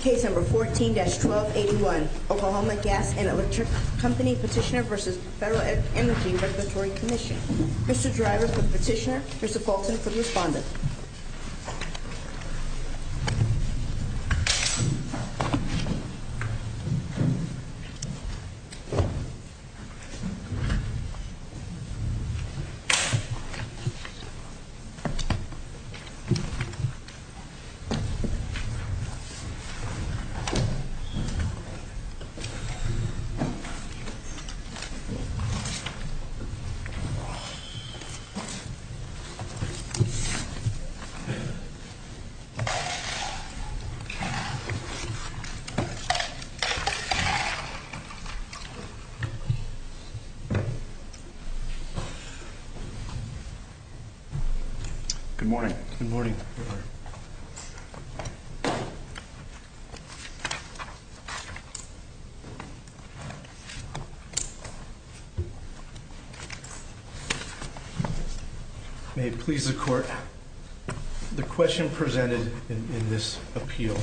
Case No. 14-1281, Oklahoma Gas and Electric Company Petitioner v. Federal Energy Regulatory Commission. Mr. Driver for the petitioner, Mr. Fulton for the respondent. Good morning. Good morning. May it please the Court, the question presented in this appeal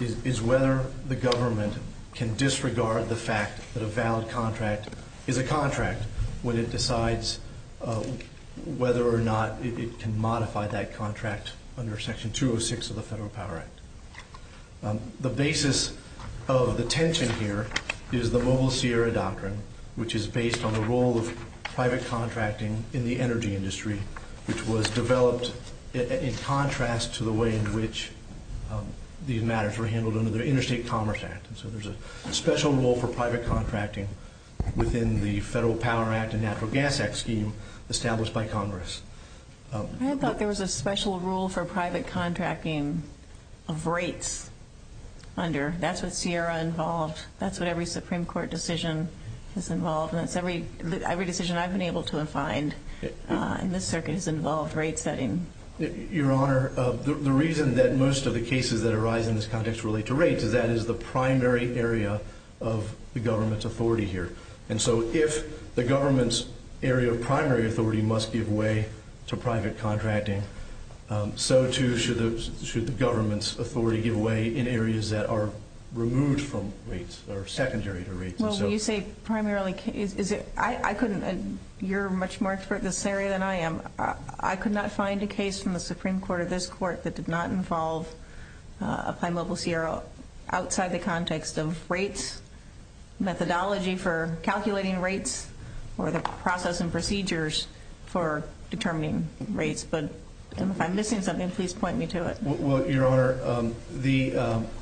is whether the government can disregard the fact that a valid contract is a contract when it decides whether or not it can modify that contract under Section 206 of the Federal Power Act. The basis of the tension here is the Mobile Sierra Doctrine, which is based on the role of private contracting in the energy industry, which was developed in contrast to the way in which these matters were handled under the Interstate Commerce Act. So there's a special role for private contracting within the Federal Power Act and Natural Gas Act scheme established by Congress. I thought there was a special role for private contracting of rates under. That's what Sierra involved. That's what every Supreme Court decision is involved in. That's every decision I've been able to find in this circuit has involved rate setting. Your Honor, the reason that most of the cases that arise in this context relate to rates is that is the primary area of the government's authority here. And so if the government's area of primary authority must give way to private contracting, so too should the government's authority give way in areas that are removed from rates or secondary to rates. Well, when you say primarily, I couldn't. You're much more expert in this area than I am. I could not find a case from the Supreme Court or this Court that did not involve Applied Mobile Sierra outside the context of rates, methodology for calculating rates, or the process and procedures for determining rates. But if I'm missing something, please point me to it. Well, Your Honor,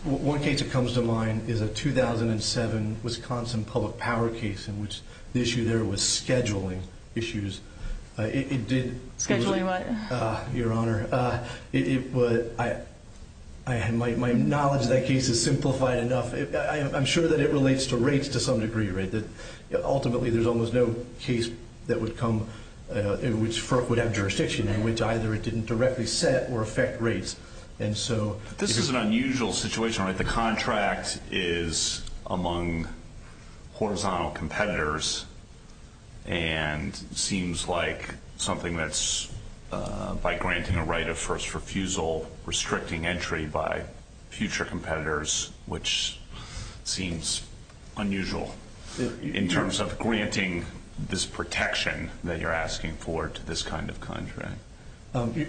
one case that comes to mind is a 2007 Wisconsin public power case in which the issue there was scheduling issues. Scheduling what? Your Honor, my knowledge of that case is simplified enough. I'm sure that it relates to rates to some degree. Ultimately, there's almost no case that would come in which FERC would have jurisdiction in which either it didn't directly set or affect rates. This is an unusual situation. Your Honor, the contract is among horizontal competitors and seems like something that's, by granting a right of first refusal, restricting entry by future competitors, which seems unusual in terms of granting this protection that you're asking for to this kind of contract.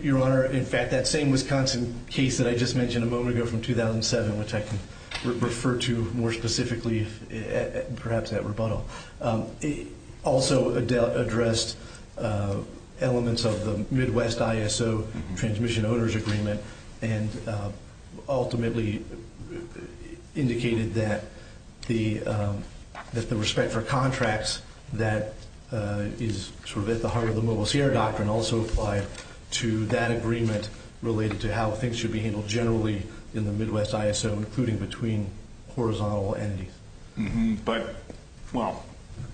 Your Honor, in fact, that same Wisconsin case that I just mentioned a moment ago from 2007, which I can refer to more specifically perhaps in that rebuttal, also addressed elements of the Midwest ISO Transmission Owners Agreement and ultimately indicated that the respect for contracts that is sort of at the heart of the Mobile Sierra Doctrine also applied to that agreement related to how things should be handled generally in the Midwest ISO, including between horizontal entities. But, well,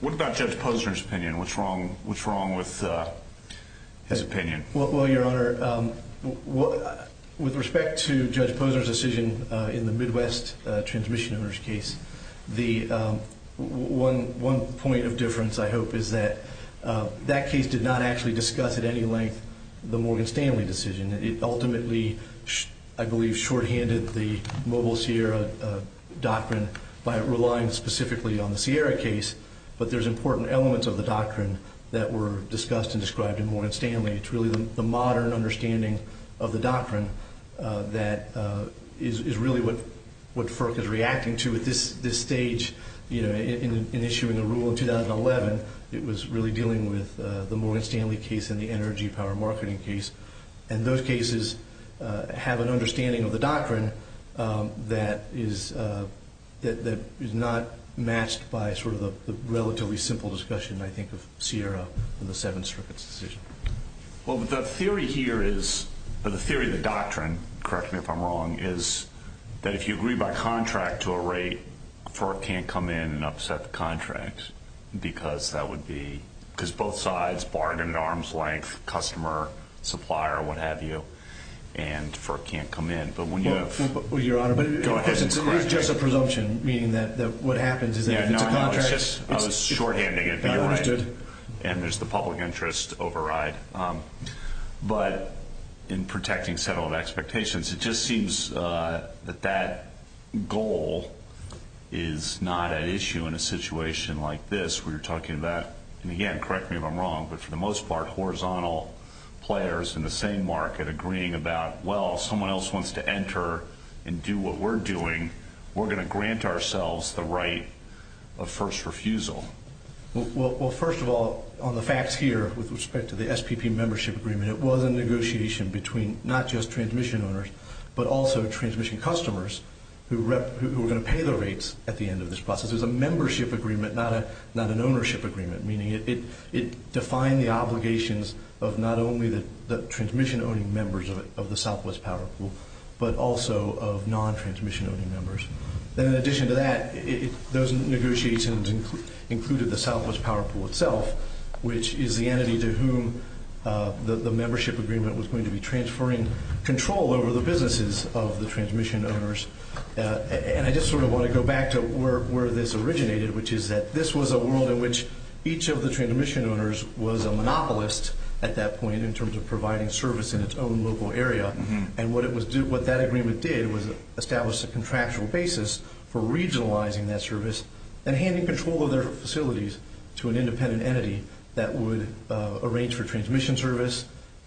what about Judge Posner's opinion? What's wrong with his opinion? Well, Your Honor, with respect to Judge Posner's decision in the Midwest transmission owners case, one point of difference, I hope, is that that case did not actually discuss at any length the Morgan Stanley decision. It ultimately, I believe, shorthanded the Mobile Sierra Doctrine by relying specifically on the Sierra case, but there's important elements of the doctrine that were discussed and described in Morgan Stanley. It's really the modern understanding of the doctrine that is really what FERC is reacting to at this stage in issuing a rule in 2011. It was really dealing with the Morgan Stanley case and the energy power marketing case, and those cases have an understanding of the doctrine that is not matched by sort of the relatively simple discussion, I think, of Sierra and the seven circuits decision. Well, the theory here is, or the theory of the doctrine, correct me if I'm wrong, is that if you agree by contract to a rate, FERC can't come in and upset the contract because that would be, because both sides bargain at arm's length, customer, supplier, what have you, and FERC can't come in. But when you have, go ahead and correct me. Well, Your Honor, but it's just a presumption, meaning that what happens is that if it's a contract. I was shorthanding it, but you're right, and there's the public interest override. But in protecting settlement expectations, it just seems that that goal is not an issue in a situation like this. We're talking about, and again, correct me if I'm wrong, but for the most part, horizontal players in the same market agreeing about, well, if someone else wants to enter and do what we're doing, we're going to grant ourselves the right of first refusal. Well, first of all, on the facts here with respect to the SPP membership agreement, it was a negotiation between not just transmission owners but also transmission customers who were going to pay the rates at the end of this process. It was a membership agreement, not an ownership agreement, meaning it defined the obligations of not only the transmission-owning members of the Southwest Power Pool, but also of non-transmission-owning members. And in addition to that, those negotiations included the Southwest Power Pool itself, which is the entity to whom the membership agreement was going to be transferring control over the businesses of the transmission owners. And I just sort of want to go back to where this originated, which is that this was a world in which each of the transmission owners was a monopolist at that point in terms of providing service in its own local area. And what that agreement did was establish a contractual basis for regionalizing that service and handing control of their facilities to an independent entity that would arrange for transmission service,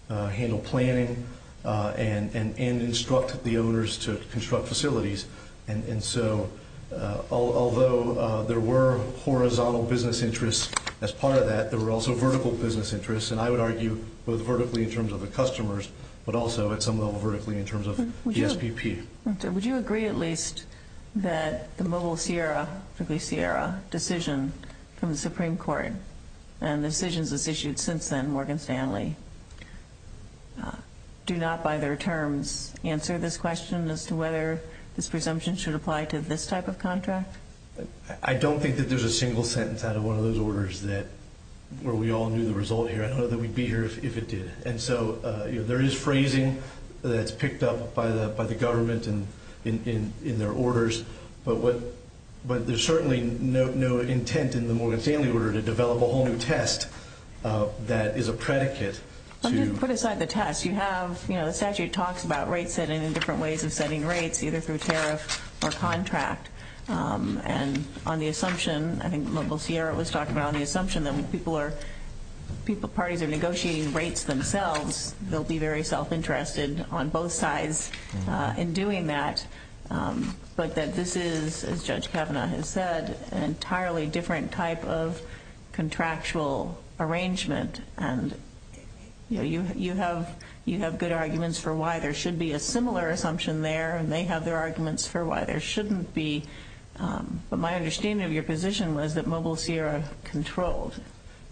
handle planning, and instruct the owners to construct facilities. And so although there were horizontal business interests as part of that, there were also vertical business interests. And I would argue both vertically in terms of the customers, but also at some level vertically in terms of the SPP. Would you agree at least that the Mobile Sierra decision from the Supreme Court and the decisions that's issued since then, Morgan Stanley, do not by their terms answer this question as to whether this presumption should apply to this type of contract? I don't think that there's a single sentence out of one of those orders where we all knew the result here. I don't know that we'd be here if it did. And so there is phrasing that's picked up by the government in their orders, but there's certainly no intent in the Morgan Stanley order to develop a whole new test that is a predicate. Let me put aside the test. Yes, you have. The statute talks about rates setting and different ways of setting rates, either through tariff or contract. And on the assumption, I think Mobile Sierra was talking about, on the assumption that when parties are negotiating rates themselves, they'll be very self-interested on both sides in doing that, but that this is, as Judge Kavanaugh has said, an entirely different type of contractual arrangement. And you have good arguments for why there should be a similar assumption there, and they have their arguments for why there shouldn't be. But my understanding of your position was that Mobile Sierra controlled.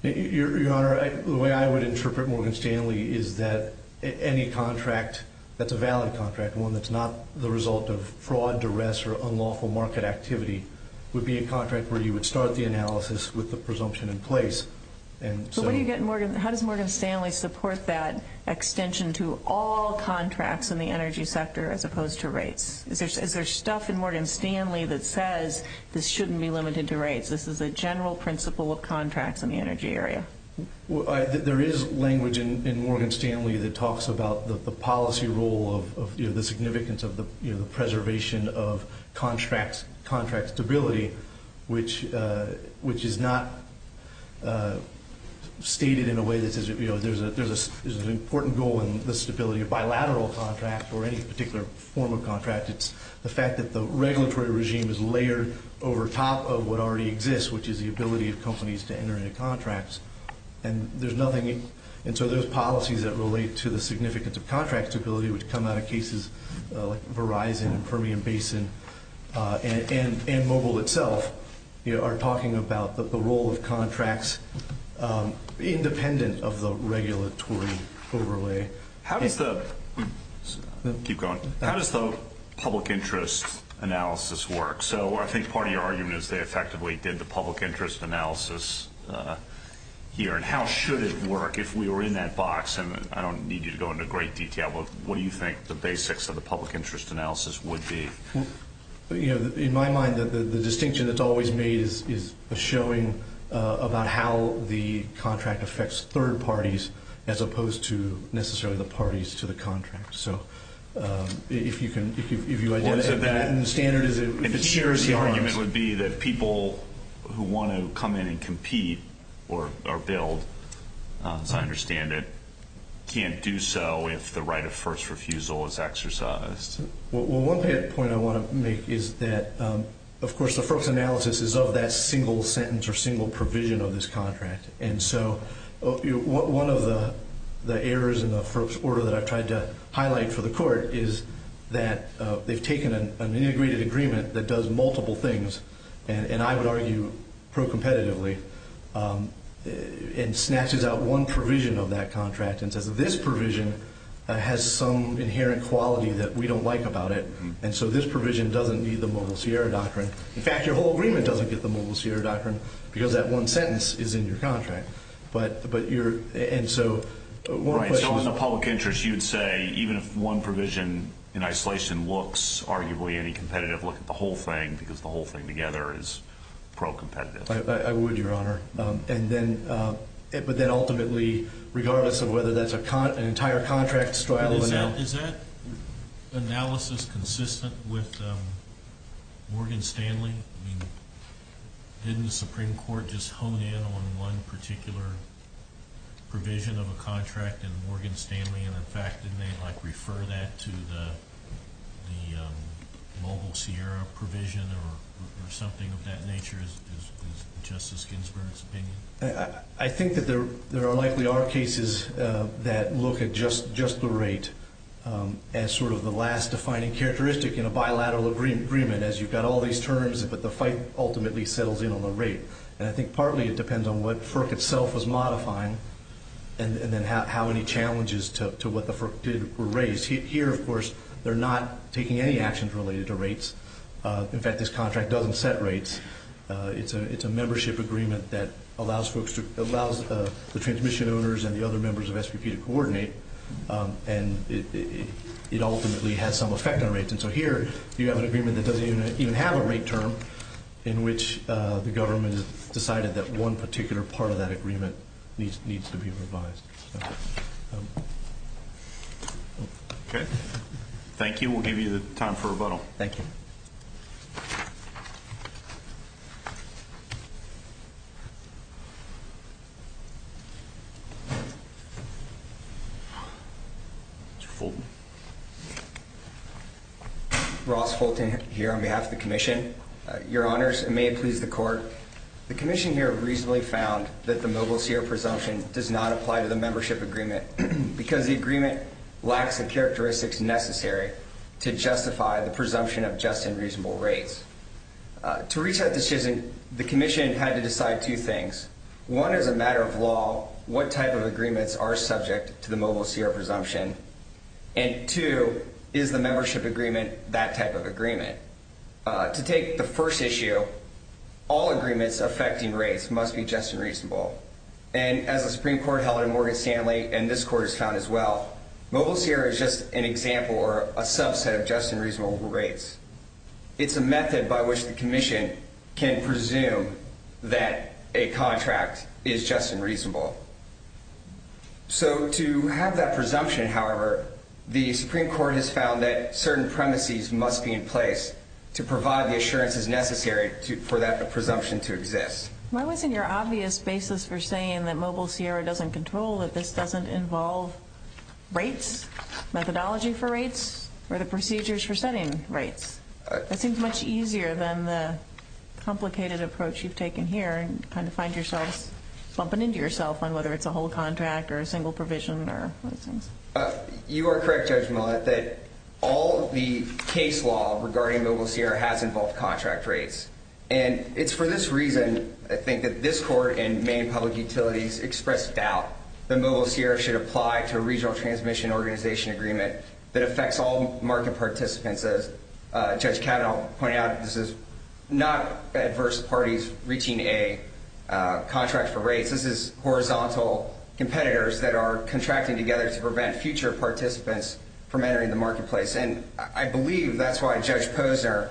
Your Honor, the way I would interpret Morgan Stanley is that any contract that's a valid contract, one that's not the result of fraud, duress, or unlawful market activity, would be a contract where you would start the analysis with the presumption in place. How does Morgan Stanley support that extension to all contracts in the energy sector as opposed to rates? Is there stuff in Morgan Stanley that says this shouldn't be limited to rates, this is a general principle of contracts in the energy area? There is language in Morgan Stanley that talks about the policy role, the significance of the preservation of contract stability, which is not stated in a way that says there's an important goal in the stability of bilateral contracts or any particular form of contract. It's the fact that the regulatory regime is layered over top of what already exists, which is the ability of companies to enter into contracts. And so there's policies that relate to the significance of contract stability, which come out of cases like Verizon and Permian Basin, and Mobile itself are talking about the role of contracts independent of the regulatory overlay. How does the public interest analysis work? So I think part of your argument is they effectively did the public interest analysis here, and how should it work if we were in that box? And I don't need you to go into great detail, but what do you think the basics of the public interest analysis would be? In my mind, the distinction that's always made is a showing about how the contract affects third parties as opposed to necessarily the parties to the contract. So if you identify that in the standards, it tears the arms. The argument would be that people who want to come in and compete or build, as I understand it, can't do so if the right of first refusal is exercised. Well, one point I want to make is that, of course, the first analysis is of that single sentence or single provision of this contract. And so one of the errors in the first order that I've tried to highlight for the court is that they've taken an integrated agreement that does multiple things, and I would argue pro-competitively, and snatches out one provision of that contract and says this provision has some inherent quality that we don't like about it, and so this provision doesn't need the Mobile Sierra doctrine. In fact, your whole agreement doesn't get the Mobile Sierra doctrine because that one sentence is in your contract. And so one question. So in the public interest, you'd say even if one provision in isolation looks arguably any competitive, look at the whole thing because the whole thing together is pro-competitive. I would, Your Honor. But then ultimately, regardless of whether that's an entire contract straddle or not. Is that analysis consistent with Morgan Stanley? Didn't the Supreme Court just hone in on one particular provision of a contract in Morgan Stanley, and, in fact, didn't they refer that to the Mobile Sierra provision or something of that nature is Justice Ginsburg's opinion? I think that there likely are cases that look at just the rate as sort of the last defining characteristic in a bilateral agreement, as you've got all these terms, but the fight ultimately settles in on the rate. And I think partly it depends on what FERC itself was modifying and then how many challenges to what the FERC did were raised. Here, of course, they're not taking any actions related to rates. In fact, this contract doesn't set rates. It's a membership agreement that allows the transmission owners and the other members of SPP to coordinate, and it ultimately has some effect on rates. And so here you have an agreement that doesn't even have a rate term in which the government has decided that one particular part of that agreement needs to be revised. Okay. Thank you. We'll give you the time for rebuttal. Thank you. Mr. Fulton. Ross Fulton here on behalf of the Commission. Your Honors, it may please the Court, the Commission here reasonably found that the Mobile Sierra presumption does not apply to the membership agreement because the agreement lacks the characteristics necessary to justify the presumption of just and reasonable rates. To reach that decision, the Commission had to decide two things. One is a matter of law. What type of agreements are subject to the Mobile Sierra presumption? And two, is the membership agreement that type of agreement? To take the first issue, all agreements affecting rates must be just and reasonable. And as the Supreme Court held in Morgan Stanley, and this Court has found as well, Mobile Sierra is just an example or a subset of just and reasonable rates. It's a method by which the Commission can presume that a contract is just and reasonable. So to have that presumption, however, the Supreme Court has found that certain premises must be in place to provide the assurances necessary for that presumption to exist. Why wasn't your obvious basis for saying that Mobile Sierra doesn't control, that this doesn't involve rates, methodology for rates, or the procedures for setting rates? That seems much easier than the complicated approach you've taken here and kind of find yourselves bumping into yourself on whether it's a whole contract or a single provision or those things. You are correct, Judge Millett, that all of the case law regarding Mobile Sierra has involved contract rates. And it's for this reason, I think, that this Court and Maine Public Utilities expressed doubt that Mobile Sierra should apply to a regional transmission organization agreement that affects all market participants. As Judge Kavanaugh pointed out, this is not adverse parties reaching a contract for rates. This is horizontal competitors that are contracting together to prevent future participants from entering the marketplace. And I believe that's why Judge Posner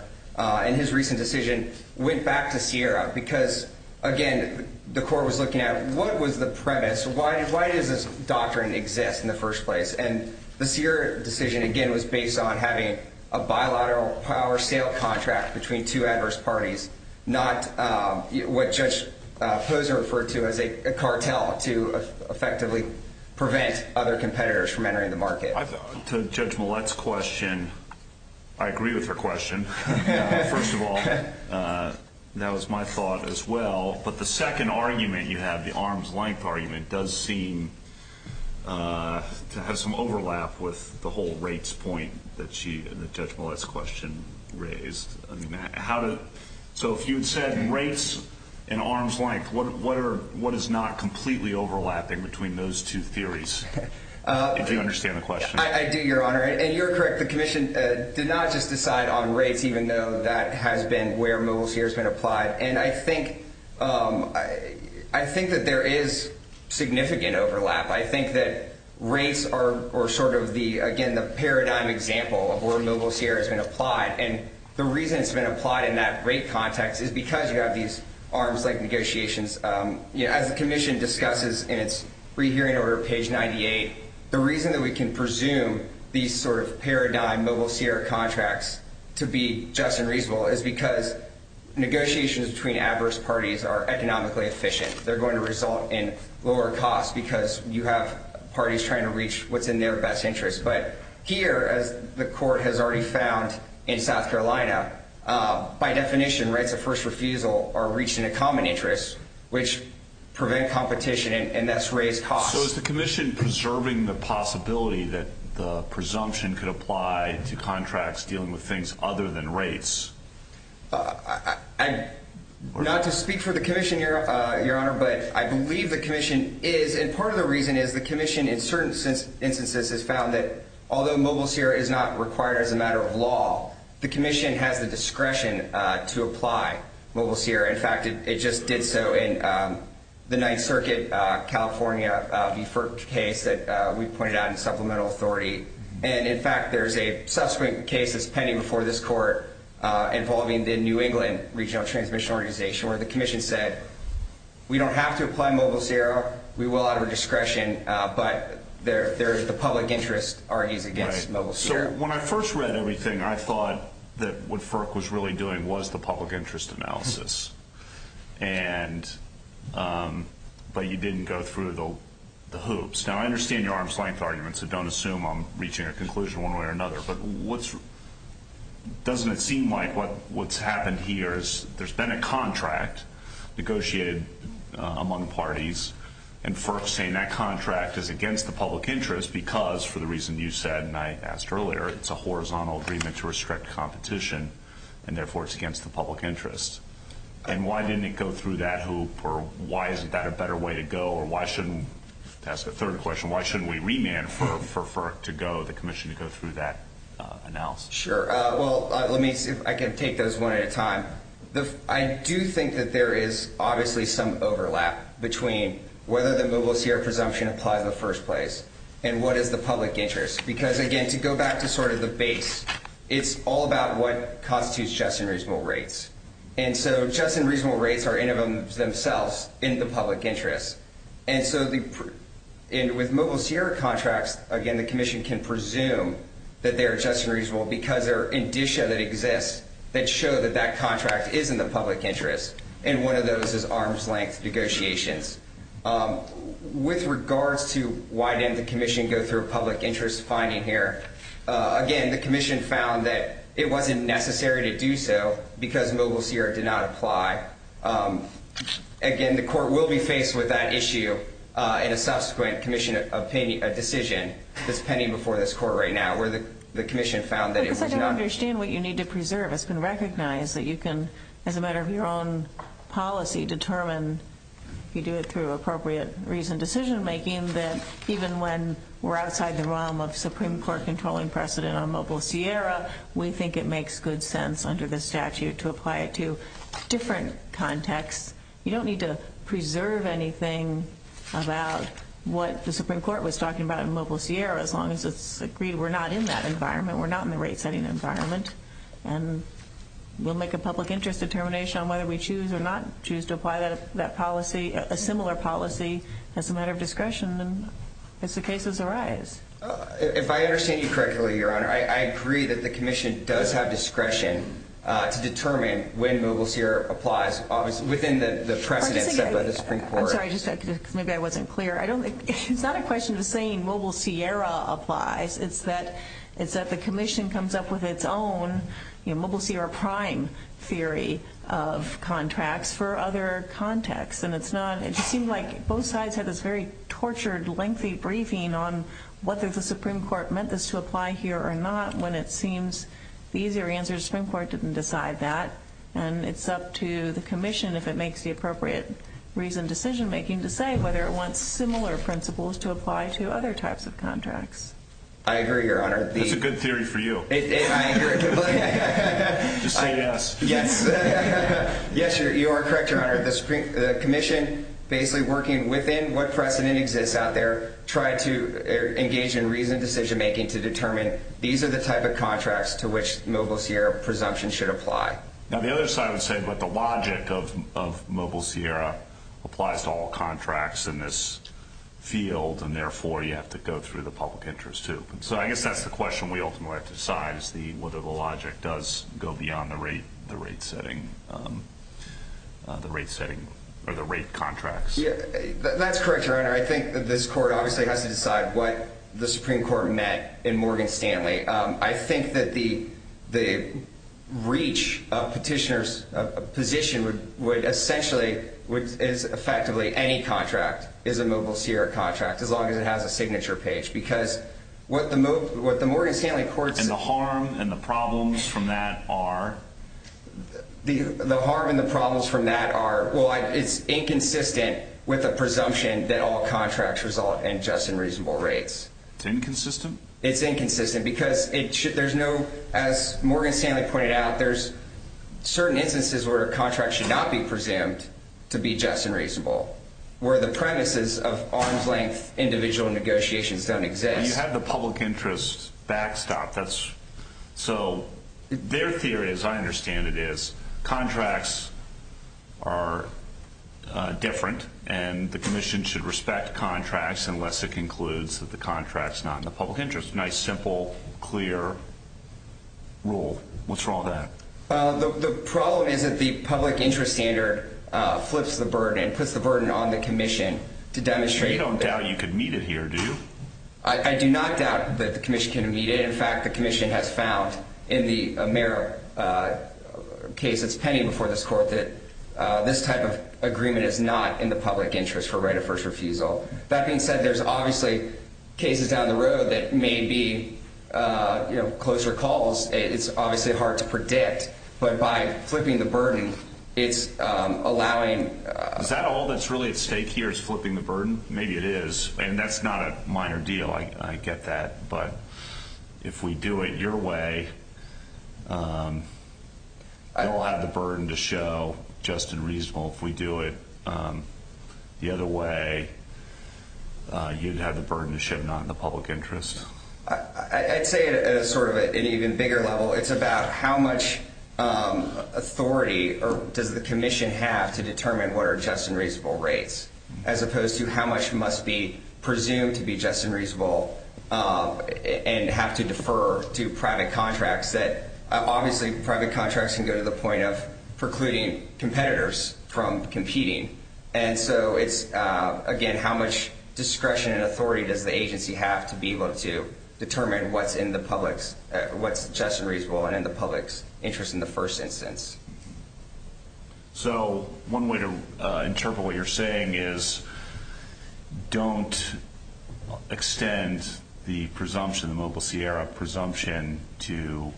in his recent decision went back to Sierra because, again, the Court was looking at what was the premise, why does this doctrine exist in the first place? And the Sierra decision, again, was based on having a bilateral power sale contract between two adverse parties, not what Judge Posner referred to as a cartel to effectively prevent other competitors from entering the market. To Judge Millett's question, I agree with her question, first of all. That was my thought as well. But the second argument you have, the arm's length argument, does seem to have some overlap with the whole rates point that Judge Millett's question raised. So if you had said rates and arm's length, what is not completely overlapping between those two theories? Do you understand the question? I do, Your Honor. And you're correct. The Commission did not just decide on rates even though that has been where Mobile Sierra has been applied. And I think that there is significant overlap. I think that rates are sort of, again, the paradigm example of where Mobile Sierra has been applied. And the reason it's been applied in that rate context is because you have these arm's length negotiations. As the Commission discusses in its re-hearing over page 98, the reason that we can presume these sort of paradigm Mobile Sierra contracts to be just and reasonable is because negotiations between adverse parties are economically efficient. They're going to result in lower costs because you have parties trying to reach what's in their best interest. But here, as the court has already found in South Carolina, by definition, rates of first refusal are reached in a common interest, which prevent competition and thus raise costs. So is the Commission preserving the possibility that the presumption could apply to contracts dealing with things other than rates? Not to speak for the Commission, Your Honor, but I believe the Commission is. And part of the reason is the Commission, in certain instances, has found that although Mobile Sierra is not required as a matter of law, the Commission has the discretion to apply Mobile Sierra. In fact, it just did so in the Ninth Circuit California case that we pointed out in supplemental authority. And, in fact, there's a subsequent case that's pending before this court involving the New England Regional Transmission Organization where the Commission said we don't have to apply Mobile Sierra, we will out of our discretion, but the public interest argues against Mobile Sierra. So when I first read everything, I thought that what FERC was really doing was the public interest analysis, but you didn't go through the hoops. Now, I understand your arm's-length argument, so don't assume I'm reaching a conclusion one way or another, but doesn't it seem like what's happened here is there's been a contract negotiated among parties and FERC's saying that contract is against the public interest because, for the reason you said and I asked earlier, it's a horizontal agreement to restrict competition and, therefore, it's against the public interest. And why didn't it go through that hoop or why isn't that a better way to go or why shouldn't, to ask a third question, why shouldn't we remand for FERC to go, the Commission to go through that analysis? Sure. Well, let me see if I can take those one at a time. I do think that there is obviously some overlap between whether the Mobile Sierra presumption applies in the first place and what is the public interest because, again, to go back to sort of the base, it's all about what constitutes just and reasonable rates. And so just and reasonable rates are in and of themselves in the public interest. And so with Mobile Sierra contracts, again, the Commission can presume that they are just and reasonable because there are indicia that exist that show that that contract is in the public interest, and one of those is arm's-length negotiations. With regards to why didn't the Commission go through a public interest finding here, again, the Commission found that it wasn't necessary to do so because Mobile Sierra did not apply. Again, the Court will be faced with that issue in a subsequent decision that's pending before this Court right now where the Commission found that it was not. Because I don't understand what you need to preserve. It's been recognized that you can, as a matter of your own policy, determine if you do it through appropriate reason, decision-making, that even when we're outside the realm of Supreme Court controlling precedent on Mobile Sierra, we think it makes good sense under the statute to apply it to different contexts. You don't need to preserve anything about what the Supreme Court was talking about in Mobile Sierra as long as it's agreed we're not in that environment, we're not in the rate-setting environment, and we'll make a public interest determination on whether we choose or not choose to apply that policy, a similar policy, as a matter of discretion as the cases arise. If I understand you correctly, Your Honor, I agree that the Commission does have discretion to determine when Mobile Sierra applies within the precedent set by the Supreme Court. I'm sorry, maybe I wasn't clear. It's not a question of saying Mobile Sierra applies. It's that the Commission comes up with its own Mobile Sierra Prime theory of contracts for other contexts, and it's not, it just seemed like both sides had this very tortured, lengthy briefing on whether the Supreme Court meant this to apply here or not, when it seems the easier answer is the Supreme Court didn't decide that, and it's up to the Commission, if it makes the appropriate reason, decision-making, to say whether it wants similar principles to apply to other types of contracts. I agree, Your Honor. That's a good theory for you. I agree. Just say yes. Yes. Yes, you are correct, Your Honor. The Commission, basically working within what precedent exists out there, tried to engage in reasoned decision-making to determine these are the type of contracts to which Mobile Sierra presumption should apply. Now, the other side would say, but the logic of Mobile Sierra applies to all contracts in this field, and therefore you have to go through the public interest, too. So I guess that's the question we ultimately have to decide, whether the logic does go beyond the rate setting or the rate contracts. That's correct, Your Honor. I think that this Court obviously has to decide what the Supreme Court meant in Morgan Stanley. I think that the reach of petitioners' position would essentially, effectively any contract is a Mobile Sierra contract as long as it has a signature page, because what the Morgan Stanley Court said... And the harm and the problems from that are? The harm and the problems from that are, well, it's inconsistent with a presumption that all contracts result in just and reasonable rates. It's inconsistent? It's inconsistent because there's no, as Morgan Stanley pointed out, there's certain instances where a contract should not be presumed to be just and reasonable, where the premises of arm's-length individual negotiations don't exist. You have the public interest backstopped. So their theory, as I understand it, is contracts are different, and the Commission should respect contracts unless it concludes that the contract's not in the public interest. Nice, simple, clear rule. What's wrong with that? The problem is that the public interest standard flips the burden, puts the burden on the Commission to demonstrate that... You don't doubt you could meet it here, do you? I do not doubt that the Commission can meet it. In fact, the Commission has found in the Merrill case that's pending before this court that this type of agreement is not in the public interest for right of first refusal. That being said, there's obviously cases down the road that may be closer calls. It's obviously hard to predict, but by flipping the burden, it's allowing... Is that all that's really at stake here is flipping the burden? Maybe it is, and that's not a minor deal. I get that, but if we do it your way, you'll have the burden to show just and reasonable. If we do it the other way, you'd have the burden to show not in the public interest. I'd say at an even bigger level, it's about how much authority does the Commission have to determine what are just and reasonable rates, as opposed to how much must be presumed to be just and reasonable and have to defer to private contracts. Obviously, private contracts can go to the point of precluding competitors from competing. Again, how much discretion and authority does the agency have to be able to determine what's just and reasonable and in the public's interest in the first instance? One way to interpret what you're saying is don't extend the presumption, the Mobile Sierra presumption, to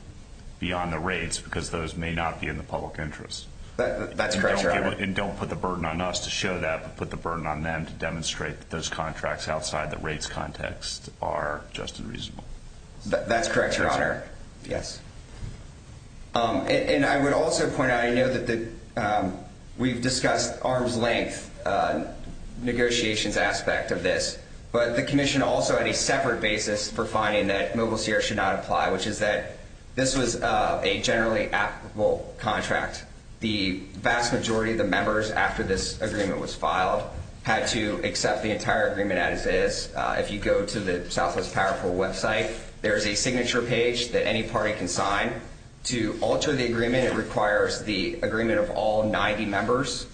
beyond the rates because those may not be in the public interest. That's correct, Your Honor. And don't put the burden on us to show that, but put the burden on them to demonstrate that those contracts outside the rates context are just and reasonable. That's correct, Your Honor. Yes. And I would also point out, I know that we've discussed arm's length negotiations aspect of this, but the Commission also had a separate basis for finding that Mobile Sierra should not apply, which is that this was a generally applicable contract. The vast majority of the members, after this agreement was filed, had to accept the entire agreement as is. If you go to the Southwest Powerful website, there is a signature page that any party can sign. To alter the agreement, it requires the agreement of all 90 members.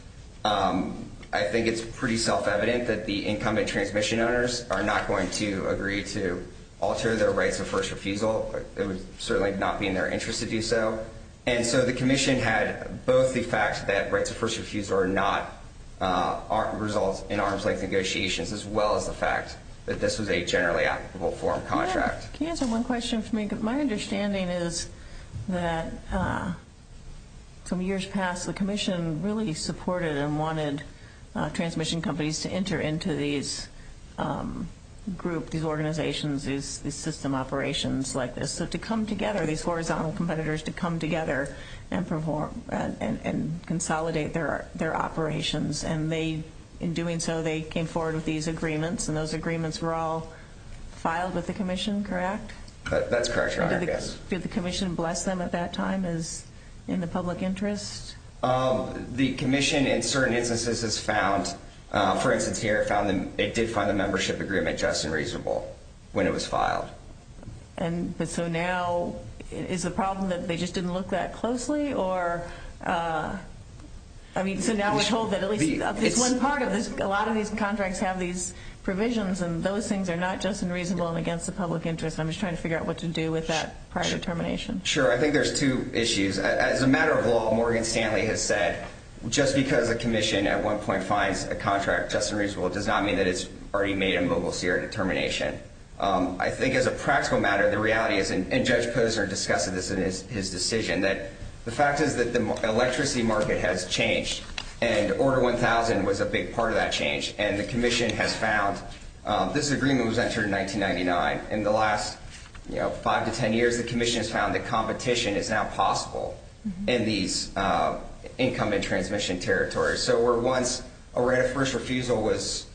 I think it's pretty self-evident that the incumbent transmission owners are not going to agree to alter their rights of first refusal. It would certainly not be in their interest to do so. And so the Commission had both the fact that rights of first refusal are not results in arm's length negotiations, as well as the fact that this was a generally applicable form of contract. Can you answer one question for me? My understanding is that some years past, the Commission really supported and wanted transmission companies to enter into these groups, these organizations, these system operations like this. So to come together, these horizontal competitors, to come together and consolidate their operations. And in doing so, they came forward with these agreements, and those agreements were all filed with the Commission, correct? That's correct, Your Honor. Yes. Did the Commission bless them at that time in the public interest? The Commission, in certain instances, has found, for instance here, it did find the membership agreement just and reasonable when it was filed. And so now, is the problem that they just didn't look that closely? Or, I mean, so now we're told that at least this one part of this, a lot of these contracts have these provisions, and those things are not just and reasonable and against the public interest. I'm just trying to figure out what to do with that prior determination. Sure. I think there's two issues. As a matter of law, Morgan Stanley has said, just because a Commission at one point finds a contract just and reasonable does not mean that it's already made a Mogul Sierra determination. I think as a practical matter, the reality is, and Judge Posner discussed this in his decision, that the fact is that the electricity market has changed, and Order 1000 was a big part of that change, and the Commission has found this agreement was entered in 1999. In the last five to ten years, the Commission has found that competition is now possible in these income and transmission territories. So where once a right of first refusal was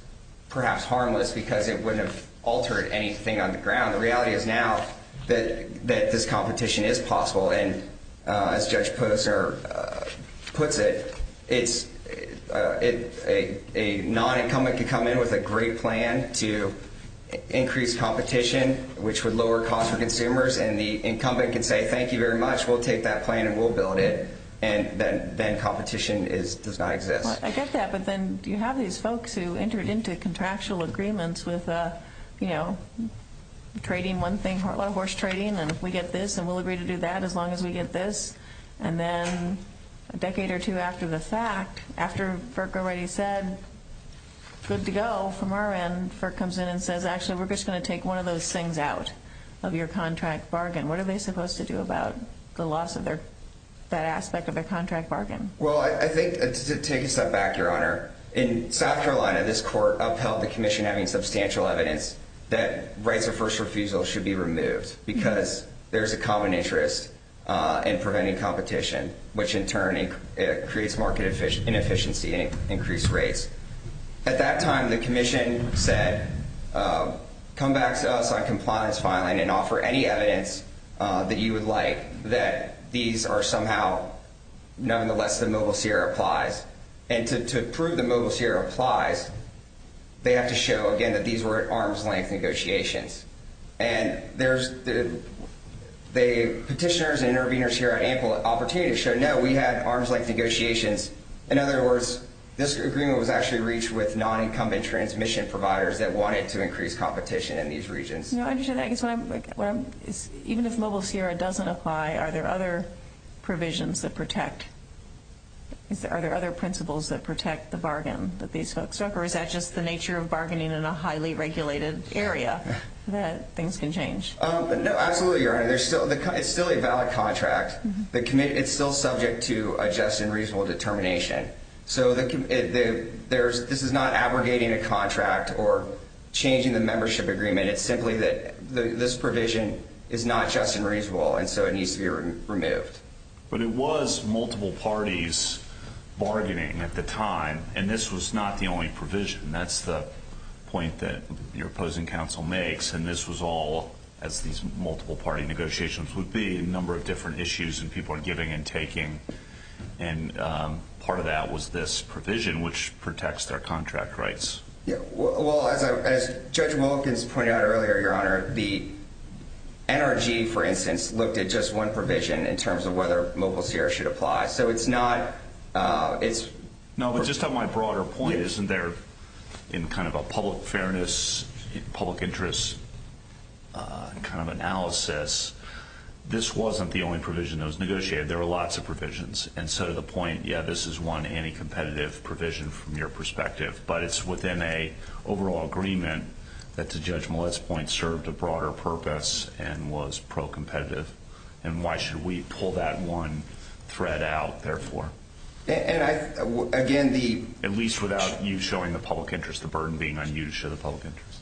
perhaps harmless because it wouldn't have altered anything on the ground, the reality is now that this competition is possible. And as Judge Posner puts it, a non-incumbent can come in with a great plan to increase competition, which would lower costs for consumers, and the incumbent can say, thank you very much, we'll take that plan and we'll build it, and then competition does not exist. I get that, but then you have these folks who entered into contractual agreements with, you know, trading one thing, a lot of horse trading, and we get this and we'll agree to do that as long as we get this, and then a decade or two after the fact, after FERC already said good to go from our end, FERC comes in and says, actually, we're just going to take one of those things out of your contract bargain. What are they supposed to do about the loss of that aspect of their contract bargain? Well, I think, to take a step back, Your Honor, in South Carolina this court upheld the commission having substantial evidence that rights of first refusal should be removed because there's a common interest in preventing competition, which in turn creates market inefficiency and increased rates. At that time the commission said, come back to us on compliance filing and offer any evidence that you would like that these are somehow, nonetheless, the Mobile Sierra applies. And to prove that Mobile Sierra applies, they have to show, again, that these were at arm's length negotiations. And the petitioners and interveners here at Ample Opportunity showed, no, we had arm's length negotiations. In other words, this agreement was actually reached with non-incumbent transmission providers that wanted to increase competition in these regions. No, I understand that. Even if Mobile Sierra doesn't apply, are there other provisions that protect? Are there other principles that protect the bargain that these folks took? Or is that just the nature of bargaining in a highly regulated area, that things can change? No, absolutely, Your Honor. It's still a valid contract. It's still subject to a just and reasonable determination. So this is not abrogating a contract or changing the membership agreement. It's simply that this provision is not just and reasonable, and so it needs to be removed. But it was multiple parties bargaining at the time, and this was not the only provision. That's the point that your opposing counsel makes. And this was all, as these multiple-party negotiations would be, a number of different issues that people are giving and taking. And part of that was this provision, which protects their contract rights. Well, as Judge Wilkins pointed out earlier, Your Honor, the NRG, for instance, looked at just one provision in terms of whether Mobile Sierra should apply. So it's not – No, but just on my broader point, isn't there in kind of a public fairness, public interest kind of analysis, this wasn't the only provision that was negotiated. There were lots of provisions. And so to the point, yeah, this is one anti-competitive provision from your perspective, but it's within an overall agreement that, to Judge Millett's point, served a broader purpose and was pro-competitive. And why should we pull that one thread out, therefore? And I – again, the – At least without you showing the public interest, the burden being unused to the public interest.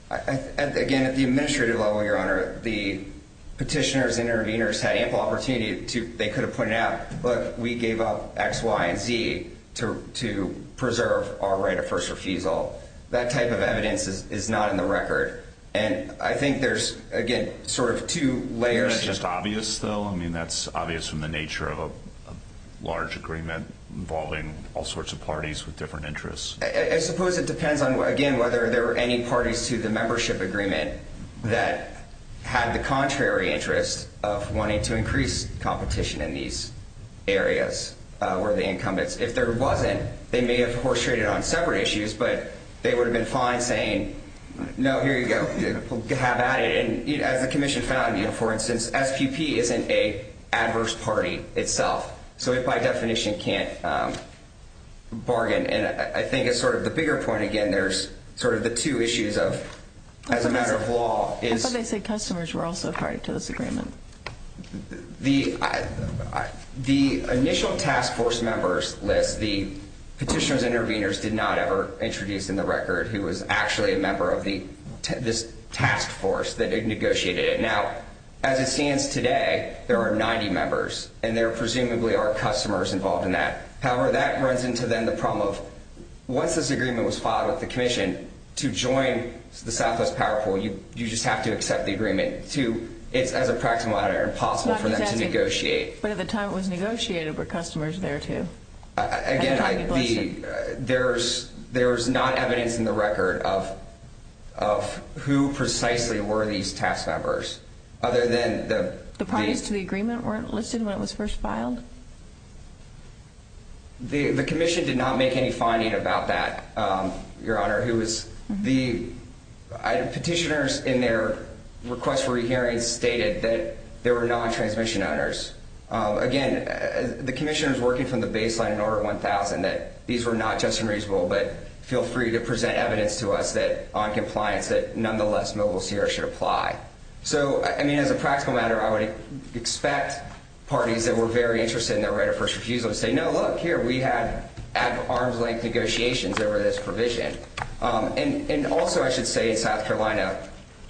Again, at the administrative level, Your Honor, the petitioners and interveners had ample opportunity to – they could have pointed out, look, we gave up X, Y, and Z to preserve our right of first refusal. That type of evidence is not in the record. And I think there's, again, sort of two layers – Is it just obvious, though? I mean, that's obvious from the nature of a large agreement involving all sorts of parties with different interests. I suppose it depends on, again, whether there were any parties to the membership agreement that had the contrary interest of wanting to increase competition in these areas were the incumbents. If there wasn't, they may have orchestrated on separate issues, but they would have been fine saying, no, here you go, have at it. And as the commission found, for instance, SPP isn't an adverse party itself. So it, by definition, can't bargain. And I think it's sort of the bigger point, again, there's sort of the two issues of, as a matter of law, is – How come they say customers were also a party to this agreement? The initial task force members list, the petitioners and interveners did not ever introduce in the record who was actually a member of this task force that negotiated it. Now, as it stands today, there are 90 members, and there presumably are customers involved in that. However, that runs into, then, the problem of once this agreement was filed with the commission, to join the Southwest Power Pool, you just have to accept the agreement. It's, as a practical matter, impossible for them to negotiate. But at the time it was negotiated, were customers there too? Again, there's not evidence in the record of who precisely were these task members. Other than the parties to the agreement weren't listed when it was first filed? The commission did not make any finding about that, Your Honor. Petitioners, in their request for a hearing, stated that there were non-transmission owners. Again, the commissioners working from the baseline in Order 1000 that these were not just and reasonable, but feel free to present evidence to us on compliance that, nonetheless, Mobile CR should apply. So, as a practical matter, I would expect parties that were very interested in their right of first refusal to say, no, look, here, we had arm's-length negotiations over this provision. And also, I should say, in South Carolina,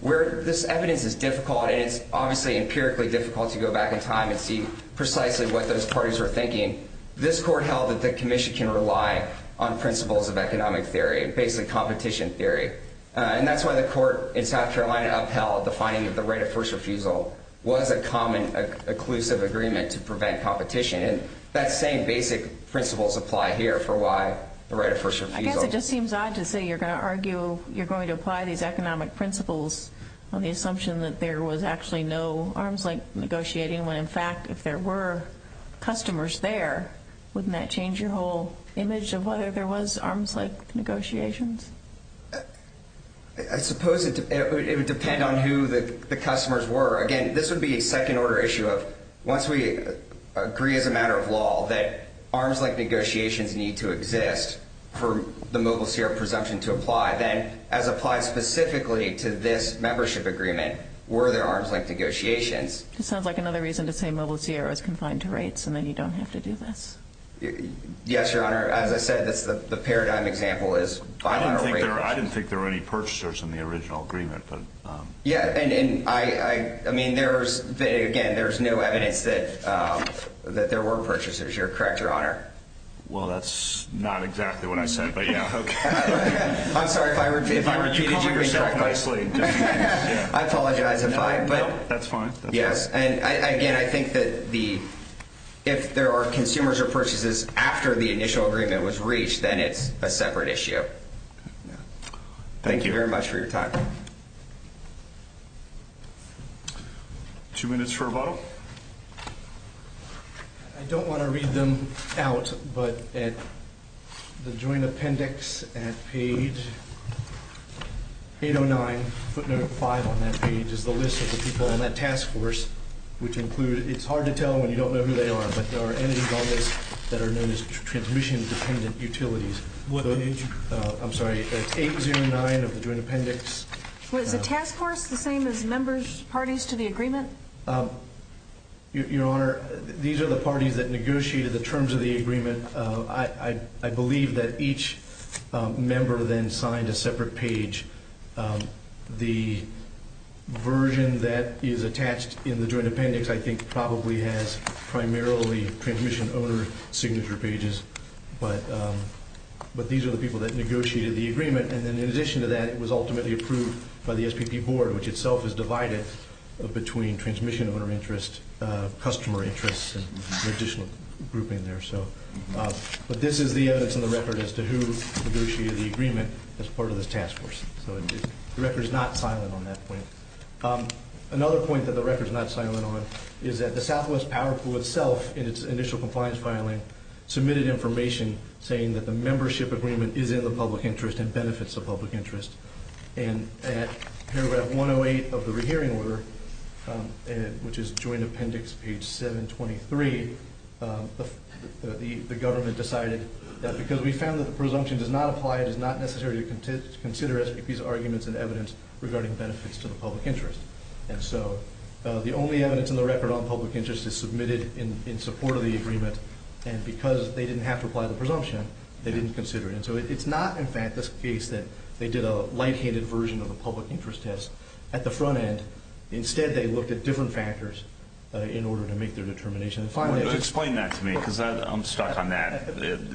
where this evidence is difficult, and it's obviously empirically difficult to go back in time and see precisely what those parties were thinking, this court held that the commission can rely on principles of economic theory, basically competition theory. And that's why the court in South Carolina upheld the finding that the right of first refusal was a common, inclusive agreement to prevent competition. And that same basic principles apply here for why the right of first refusal. I guess it just seems odd to say you're going to argue you're going to apply these economic principles on the assumption that there was actually no arm's-length negotiating when, in fact, if there were customers there, wouldn't that change your whole image of whether there was arm's-length negotiations? I suppose it would depend on who the customers were. Again, this would be a second-order issue of once we agree as a matter of law that arm's-length negotiations need to exist for the Mobile CR presumption to apply, then, as applied specifically to this membership agreement, were there arm's-length negotiations. It sounds like another reason to say Mobile CR is confined to rates and that you don't have to do this. Yes, Your Honor. As I said, the paradigm example is buying a rate. I didn't think there were any purchasers in the original agreement. Again, there's no evidence that there were purchasers. You're correct, Your Honor. Well, that's not exactly what I said, but yeah. I'm sorry if I repeated you incorrectly. I apologize. That's fine. Yes, and again, I think that if there are consumers or purchasers after the initial agreement was reached, then it's a separate issue. Thank you very much for your time. Two minutes for rebuttal. I don't want to read them out, but at the joint appendix at page 809, footnote 5 on that page, is the list of the people on that task force, which include, it's hard to tell when you don't know who they are, but there are entities on this that are known as transmission-dependent utilities. What entity? I'm sorry, it's 809 of the joint appendix. Was the task force the same as members, parties to the agreement? Your Honor, these are the parties that negotiated the terms of the agreement. I believe that each member then signed a separate page. The version that is attached in the joint appendix, I think, probably has primarily transmission-owner signature pages, but these are the people that negotiated the agreement. In addition to that, it was ultimately approved by the SPP Board, which itself is divided between transmission-owner interests, customer interests, and an additional group in there. But this is the evidence in the record as to who negotiated the agreement as part of this task force. The record is not silent on that point. Another point that the record is not silent on is that the Southwest Power Pool itself, in its initial compliance filing, submitted information saying that the membership agreement is in the public interest and benefits the public interest. And at paragraph 108 of the rehearing order, which is joint appendix page 723, the government decided that because we found that the presumption does not apply, it is not necessary to consider SPP's arguments and evidence regarding benefits to the public interest. And so the only evidence in the record on public interest is submitted in support of the agreement, and because they didn't have to apply the presumption, they didn't consider it. And so it's not, in fact, the case that they did a light-handed version of a public interest test at the front end. Instead, they looked at different factors in order to make their determination. Explain that to me because I'm stuck on that.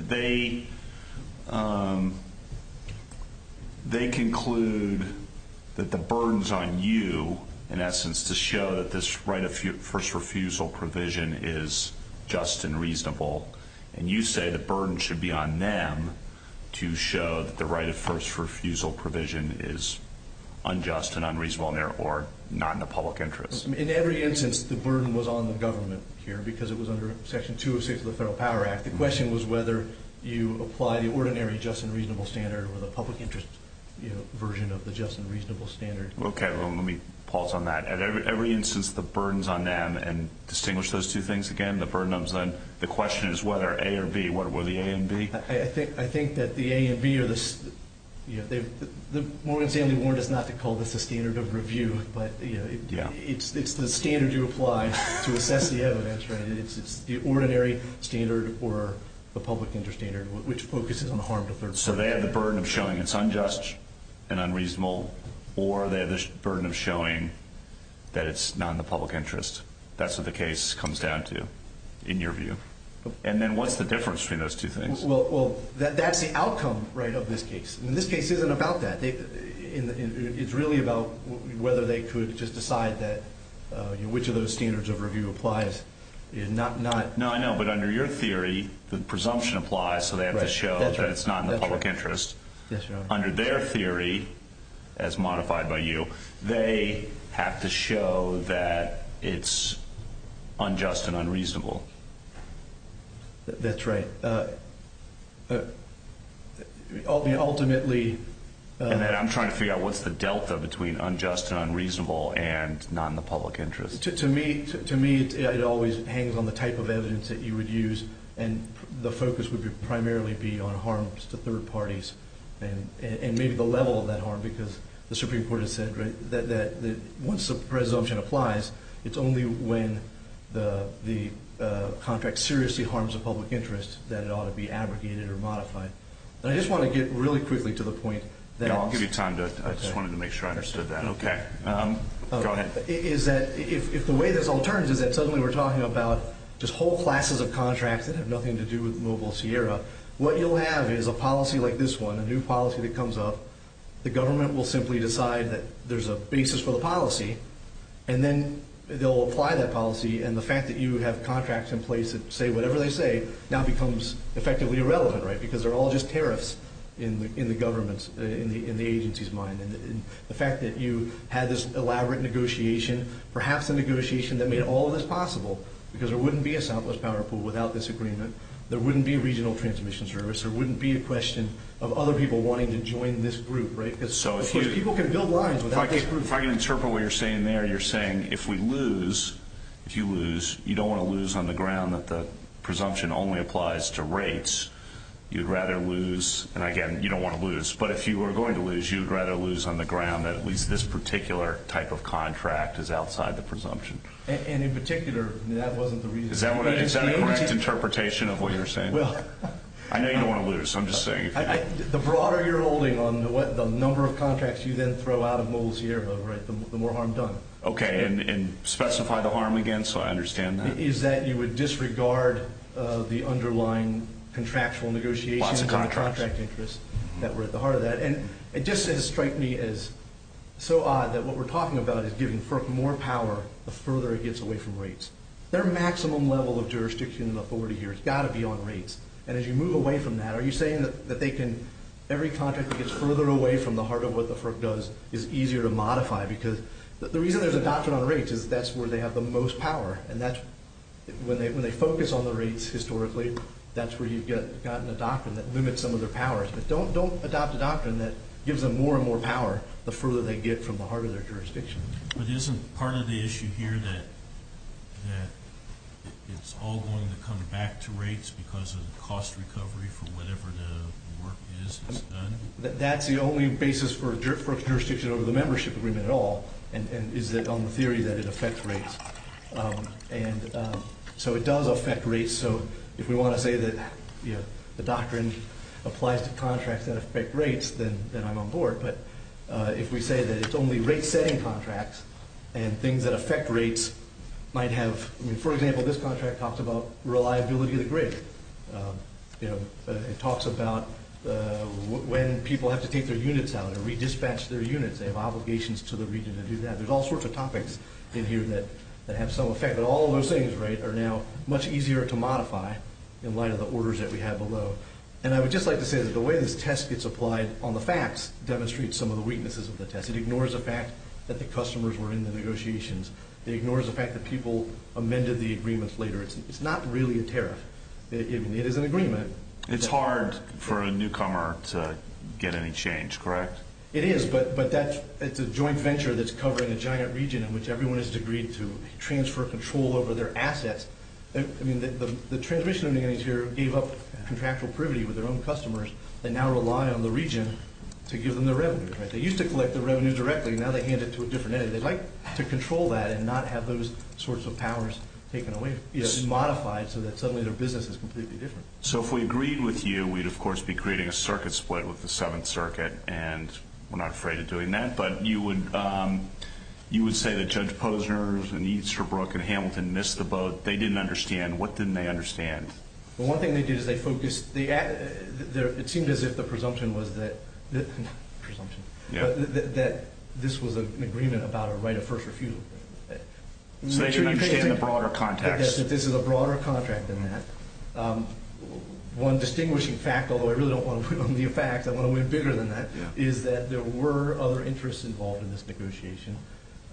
They conclude that the burden's on you, in essence, to show that this right of first refusal provision is just and reasonable, and you say the burden should be on them to show that the right of first refusal provision is unjust and unreasonable or not in the public interest. In every instance, the burden was on the government here because it was under Section 206 of the Federal Power Act. The question was whether you apply the ordinary just and reasonable standard or the public interest version of the just and reasonable standard. Okay, well, let me pause on that. At every instance, the burden's on them, and distinguish those two things again. The question is whether A or B. What are the A and B? I think that the A and B are the standard. Morgan Stanley warned us not to call this a standard of review, but it's the standard you apply to assess the evidence, right? It's the ordinary standard or the public interest standard, which focuses on the harm to third parties. So they have the burden of showing it's unjust and unreasonable, or they have the burden of showing that it's not in the public interest. That's what the case comes down to, in your view. And then what's the difference between those two things? Well, that's the outcome, right, of this case. This case isn't about that. It's really about whether they could just decide which of those standards of review applies. No, I know, but under your theory, the presumption applies, so they have to show that it's not in the public interest. Under their theory, as modified by you, they have to show that it's unjust and unreasonable. That's right. Ultimately, I'm trying to figure out what's the delta between unjust and unreasonable and not in the public interest. To me, it always hangs on the type of evidence that you would use, and the focus would primarily be on harms to third parties and maybe the level of that harm, because the Supreme Court has said that once the presumption applies, it's only when the contract seriously harms the public interest that it ought to be abrogated or modified. And I just want to get really quickly to the point. I'll give you time. I just wanted to make sure I understood that. Okay. Go ahead. If the way this all turns is that suddenly we're talking about just whole classes of contracts that have nothing to do with Mobile Sierra, what you'll have is a policy like this one, a new policy that comes up. The government will simply decide that there's a basis for the policy, and then they'll apply that policy, and the fact that you have contracts in place that say whatever they say now becomes effectively irrelevant, right, in the government's, in the agency's mind. And the fact that you had this elaborate negotiation, perhaps a negotiation that made all of this possible, because there wouldn't be a Southwest Power Pool without this agreement. There wouldn't be a regional transmission service. There wouldn't be a question of other people wanting to join this group, right? Because people can build lines without this group. If I can interpret what you're saying there, you're saying if we lose, if you lose, you don't want to lose on the ground that the presumption only applies to rates. If you lose, you'd rather lose, and again, you don't want to lose, but if you were going to lose, you'd rather lose on the ground that at least this particular type of contract is outside the presumption. And in particular, that wasn't the reason. Is that a correct interpretation of what you're saying? I know you don't want to lose, so I'm just saying. The broader you're holding on the number of contracts you then throw out of Mobile Sierra, right, the more harm done. Okay, and specify the harm again so I understand that. Is that you would disregard the underlying contractual negotiations and the contract interest that were at the heart of that. And it just strikes me as so odd that what we're talking about is giving FERC more power the further it gets away from rates. Their maximum level of jurisdiction and authority here has got to be on rates. And as you move away from that, are you saying that they can, every contract that gets further away from the heart of what the FERC does is easier to modify because the reason there's a doctrine on rates is that's where they have the most power. And when they focus on the rates historically, that's where you've gotten a doctrine that limits some of their powers. But don't adopt a doctrine that gives them more and more power the further they get from the heart of their jurisdiction. But isn't part of the issue here that it's all going to come back to rates because of the cost recovery for whatever the work is that's done? That's the only basis for jurisdiction over the membership agreement at all. And is it on the theory that it affects rates? And so it does affect rates. So if we want to say that the doctrine applies to contracts that affect rates, then I'm on board. But if we say that it's only rate-setting contracts and things that affect rates might have, for example, this contract talks about reliability of the grid. It talks about when people have to take their units out or redispatch their units, they have obligations to the region to do that. There's all sorts of topics in here that have some effect. But all of those things are now much easier to modify in light of the orders that we have below. And I would just like to say that the way this test gets applied on the facts demonstrates some of the weaknesses of the test. It ignores the fact that the customers were in the negotiations. It ignores the fact that people amended the agreements later. It's not really a tariff. It is an agreement. It's hard for a newcomer to get any change, correct? It is, but it's a joint venture that's covering a giant region in which everyone is agreed to transfer control over their assets. I mean, the transmission unit here gave up contractual privity with their own customers and now rely on the region to give them their revenues. They used to collect their revenues directly. Now they hand it to a different entity. They'd like to control that and not have those sorts of powers taken away, modified so that suddenly their business is completely different. So if we agreed with you, we'd, of course, be creating a circuit split with the Seventh Circuit, and we're not afraid of doing that. But you would say that Judge Posner and Easterbrook and Hamilton missed the boat. They didn't understand. What didn't they understand? Well, one thing they did is they focused. It seemed as if the presumption was that this was an agreement about a right of first refusal. So they didn't understand the broader context. Yes, that this is a broader contract than that. One distinguishing fact, although I really don't want to put only a fact, I want to weigh bigger than that, is that there were other interests involved in this negotiation.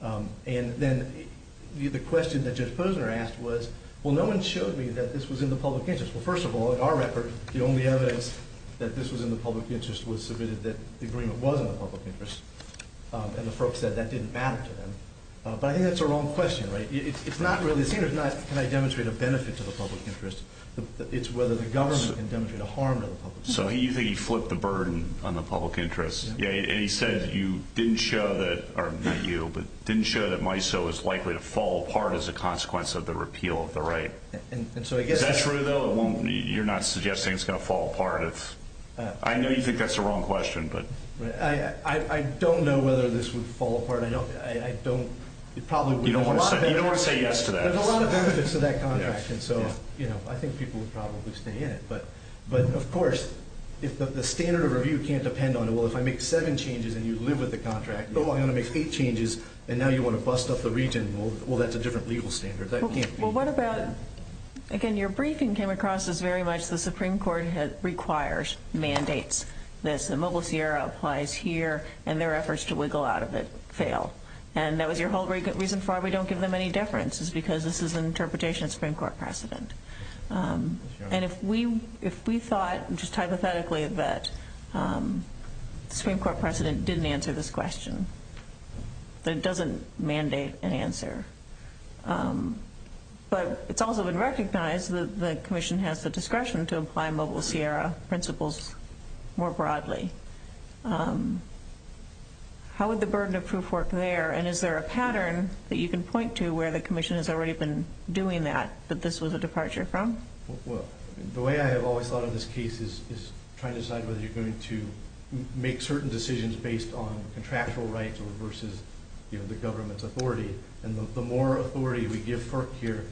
And then the question that Judge Posner asked was, well, no one showed me that this was in the public interest. Well, first of all, in our record, the only evidence that this was in the public interest was submitted that the agreement was in the public interest, and the folks said that didn't matter to them. But I think that's a wrong question, right? It's not really the same. It's not can I demonstrate a benefit to the public interest. It's whether the government can demonstrate a harm to the public interest. So you think he flipped the burden on the public interest. And he said you didn't show that, or not you, but didn't show that MISO was likely to fall apart as a consequence of the repeal of the right. Is that true, though? You're not suggesting it's going to fall apart? I know you think that's a wrong question. I don't know whether this would fall apart. You don't want to say yes to that. There's a lot of benefits to that contract, and so I think people would probably stay in it. But, of course, the standard of review can't depend on it. Well, if I make seven changes and you live with the contract, oh, I'm going to make eight changes, and now you want to bust up the region, well, that's a different legal standard. Well, what about, again, your briefing came across as very much the Supreme Court requires mandates. The Mobile Sierra applies here, and their efforts to wiggle out of it fail. And that was your whole reason why we don't give them any deference, is because this is an interpretation of Supreme Court precedent. And if we thought just hypothetically that the Supreme Court precedent didn't answer this question, that it doesn't mandate an answer, but it's also been recognized that the commission has the discretion to apply Mobile Sierra principles more broadly. How would the burden of proof work there? And is there a pattern that you can point to where the commission has already been doing that, that this was a departure from? Well, the way I have always thought of this case is trying to decide whether you're going to make certain decisions based on contractual rights versus the government's authority. And the more authority we give FERC here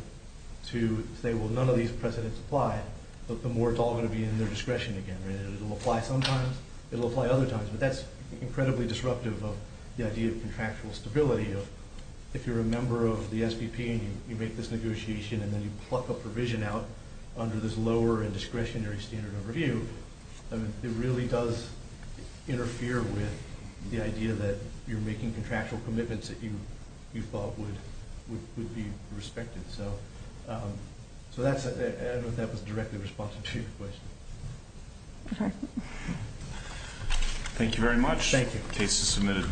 to say, well, none of these precedents apply, the more it's all going to be in their discretion again. It'll apply sometimes, it'll apply other times. But that's incredibly disruptive of the idea of contractual stability. If you're a member of the SBP and you make this negotiation and then you pluck a provision out under this lower and discretionary standard of review, it really does interfere with the idea that you're making contractual commitments that you thought would be respected. So I don't know if that was directly responsive to your question. Okay. Thank you very much. Thank you. The case is submitted.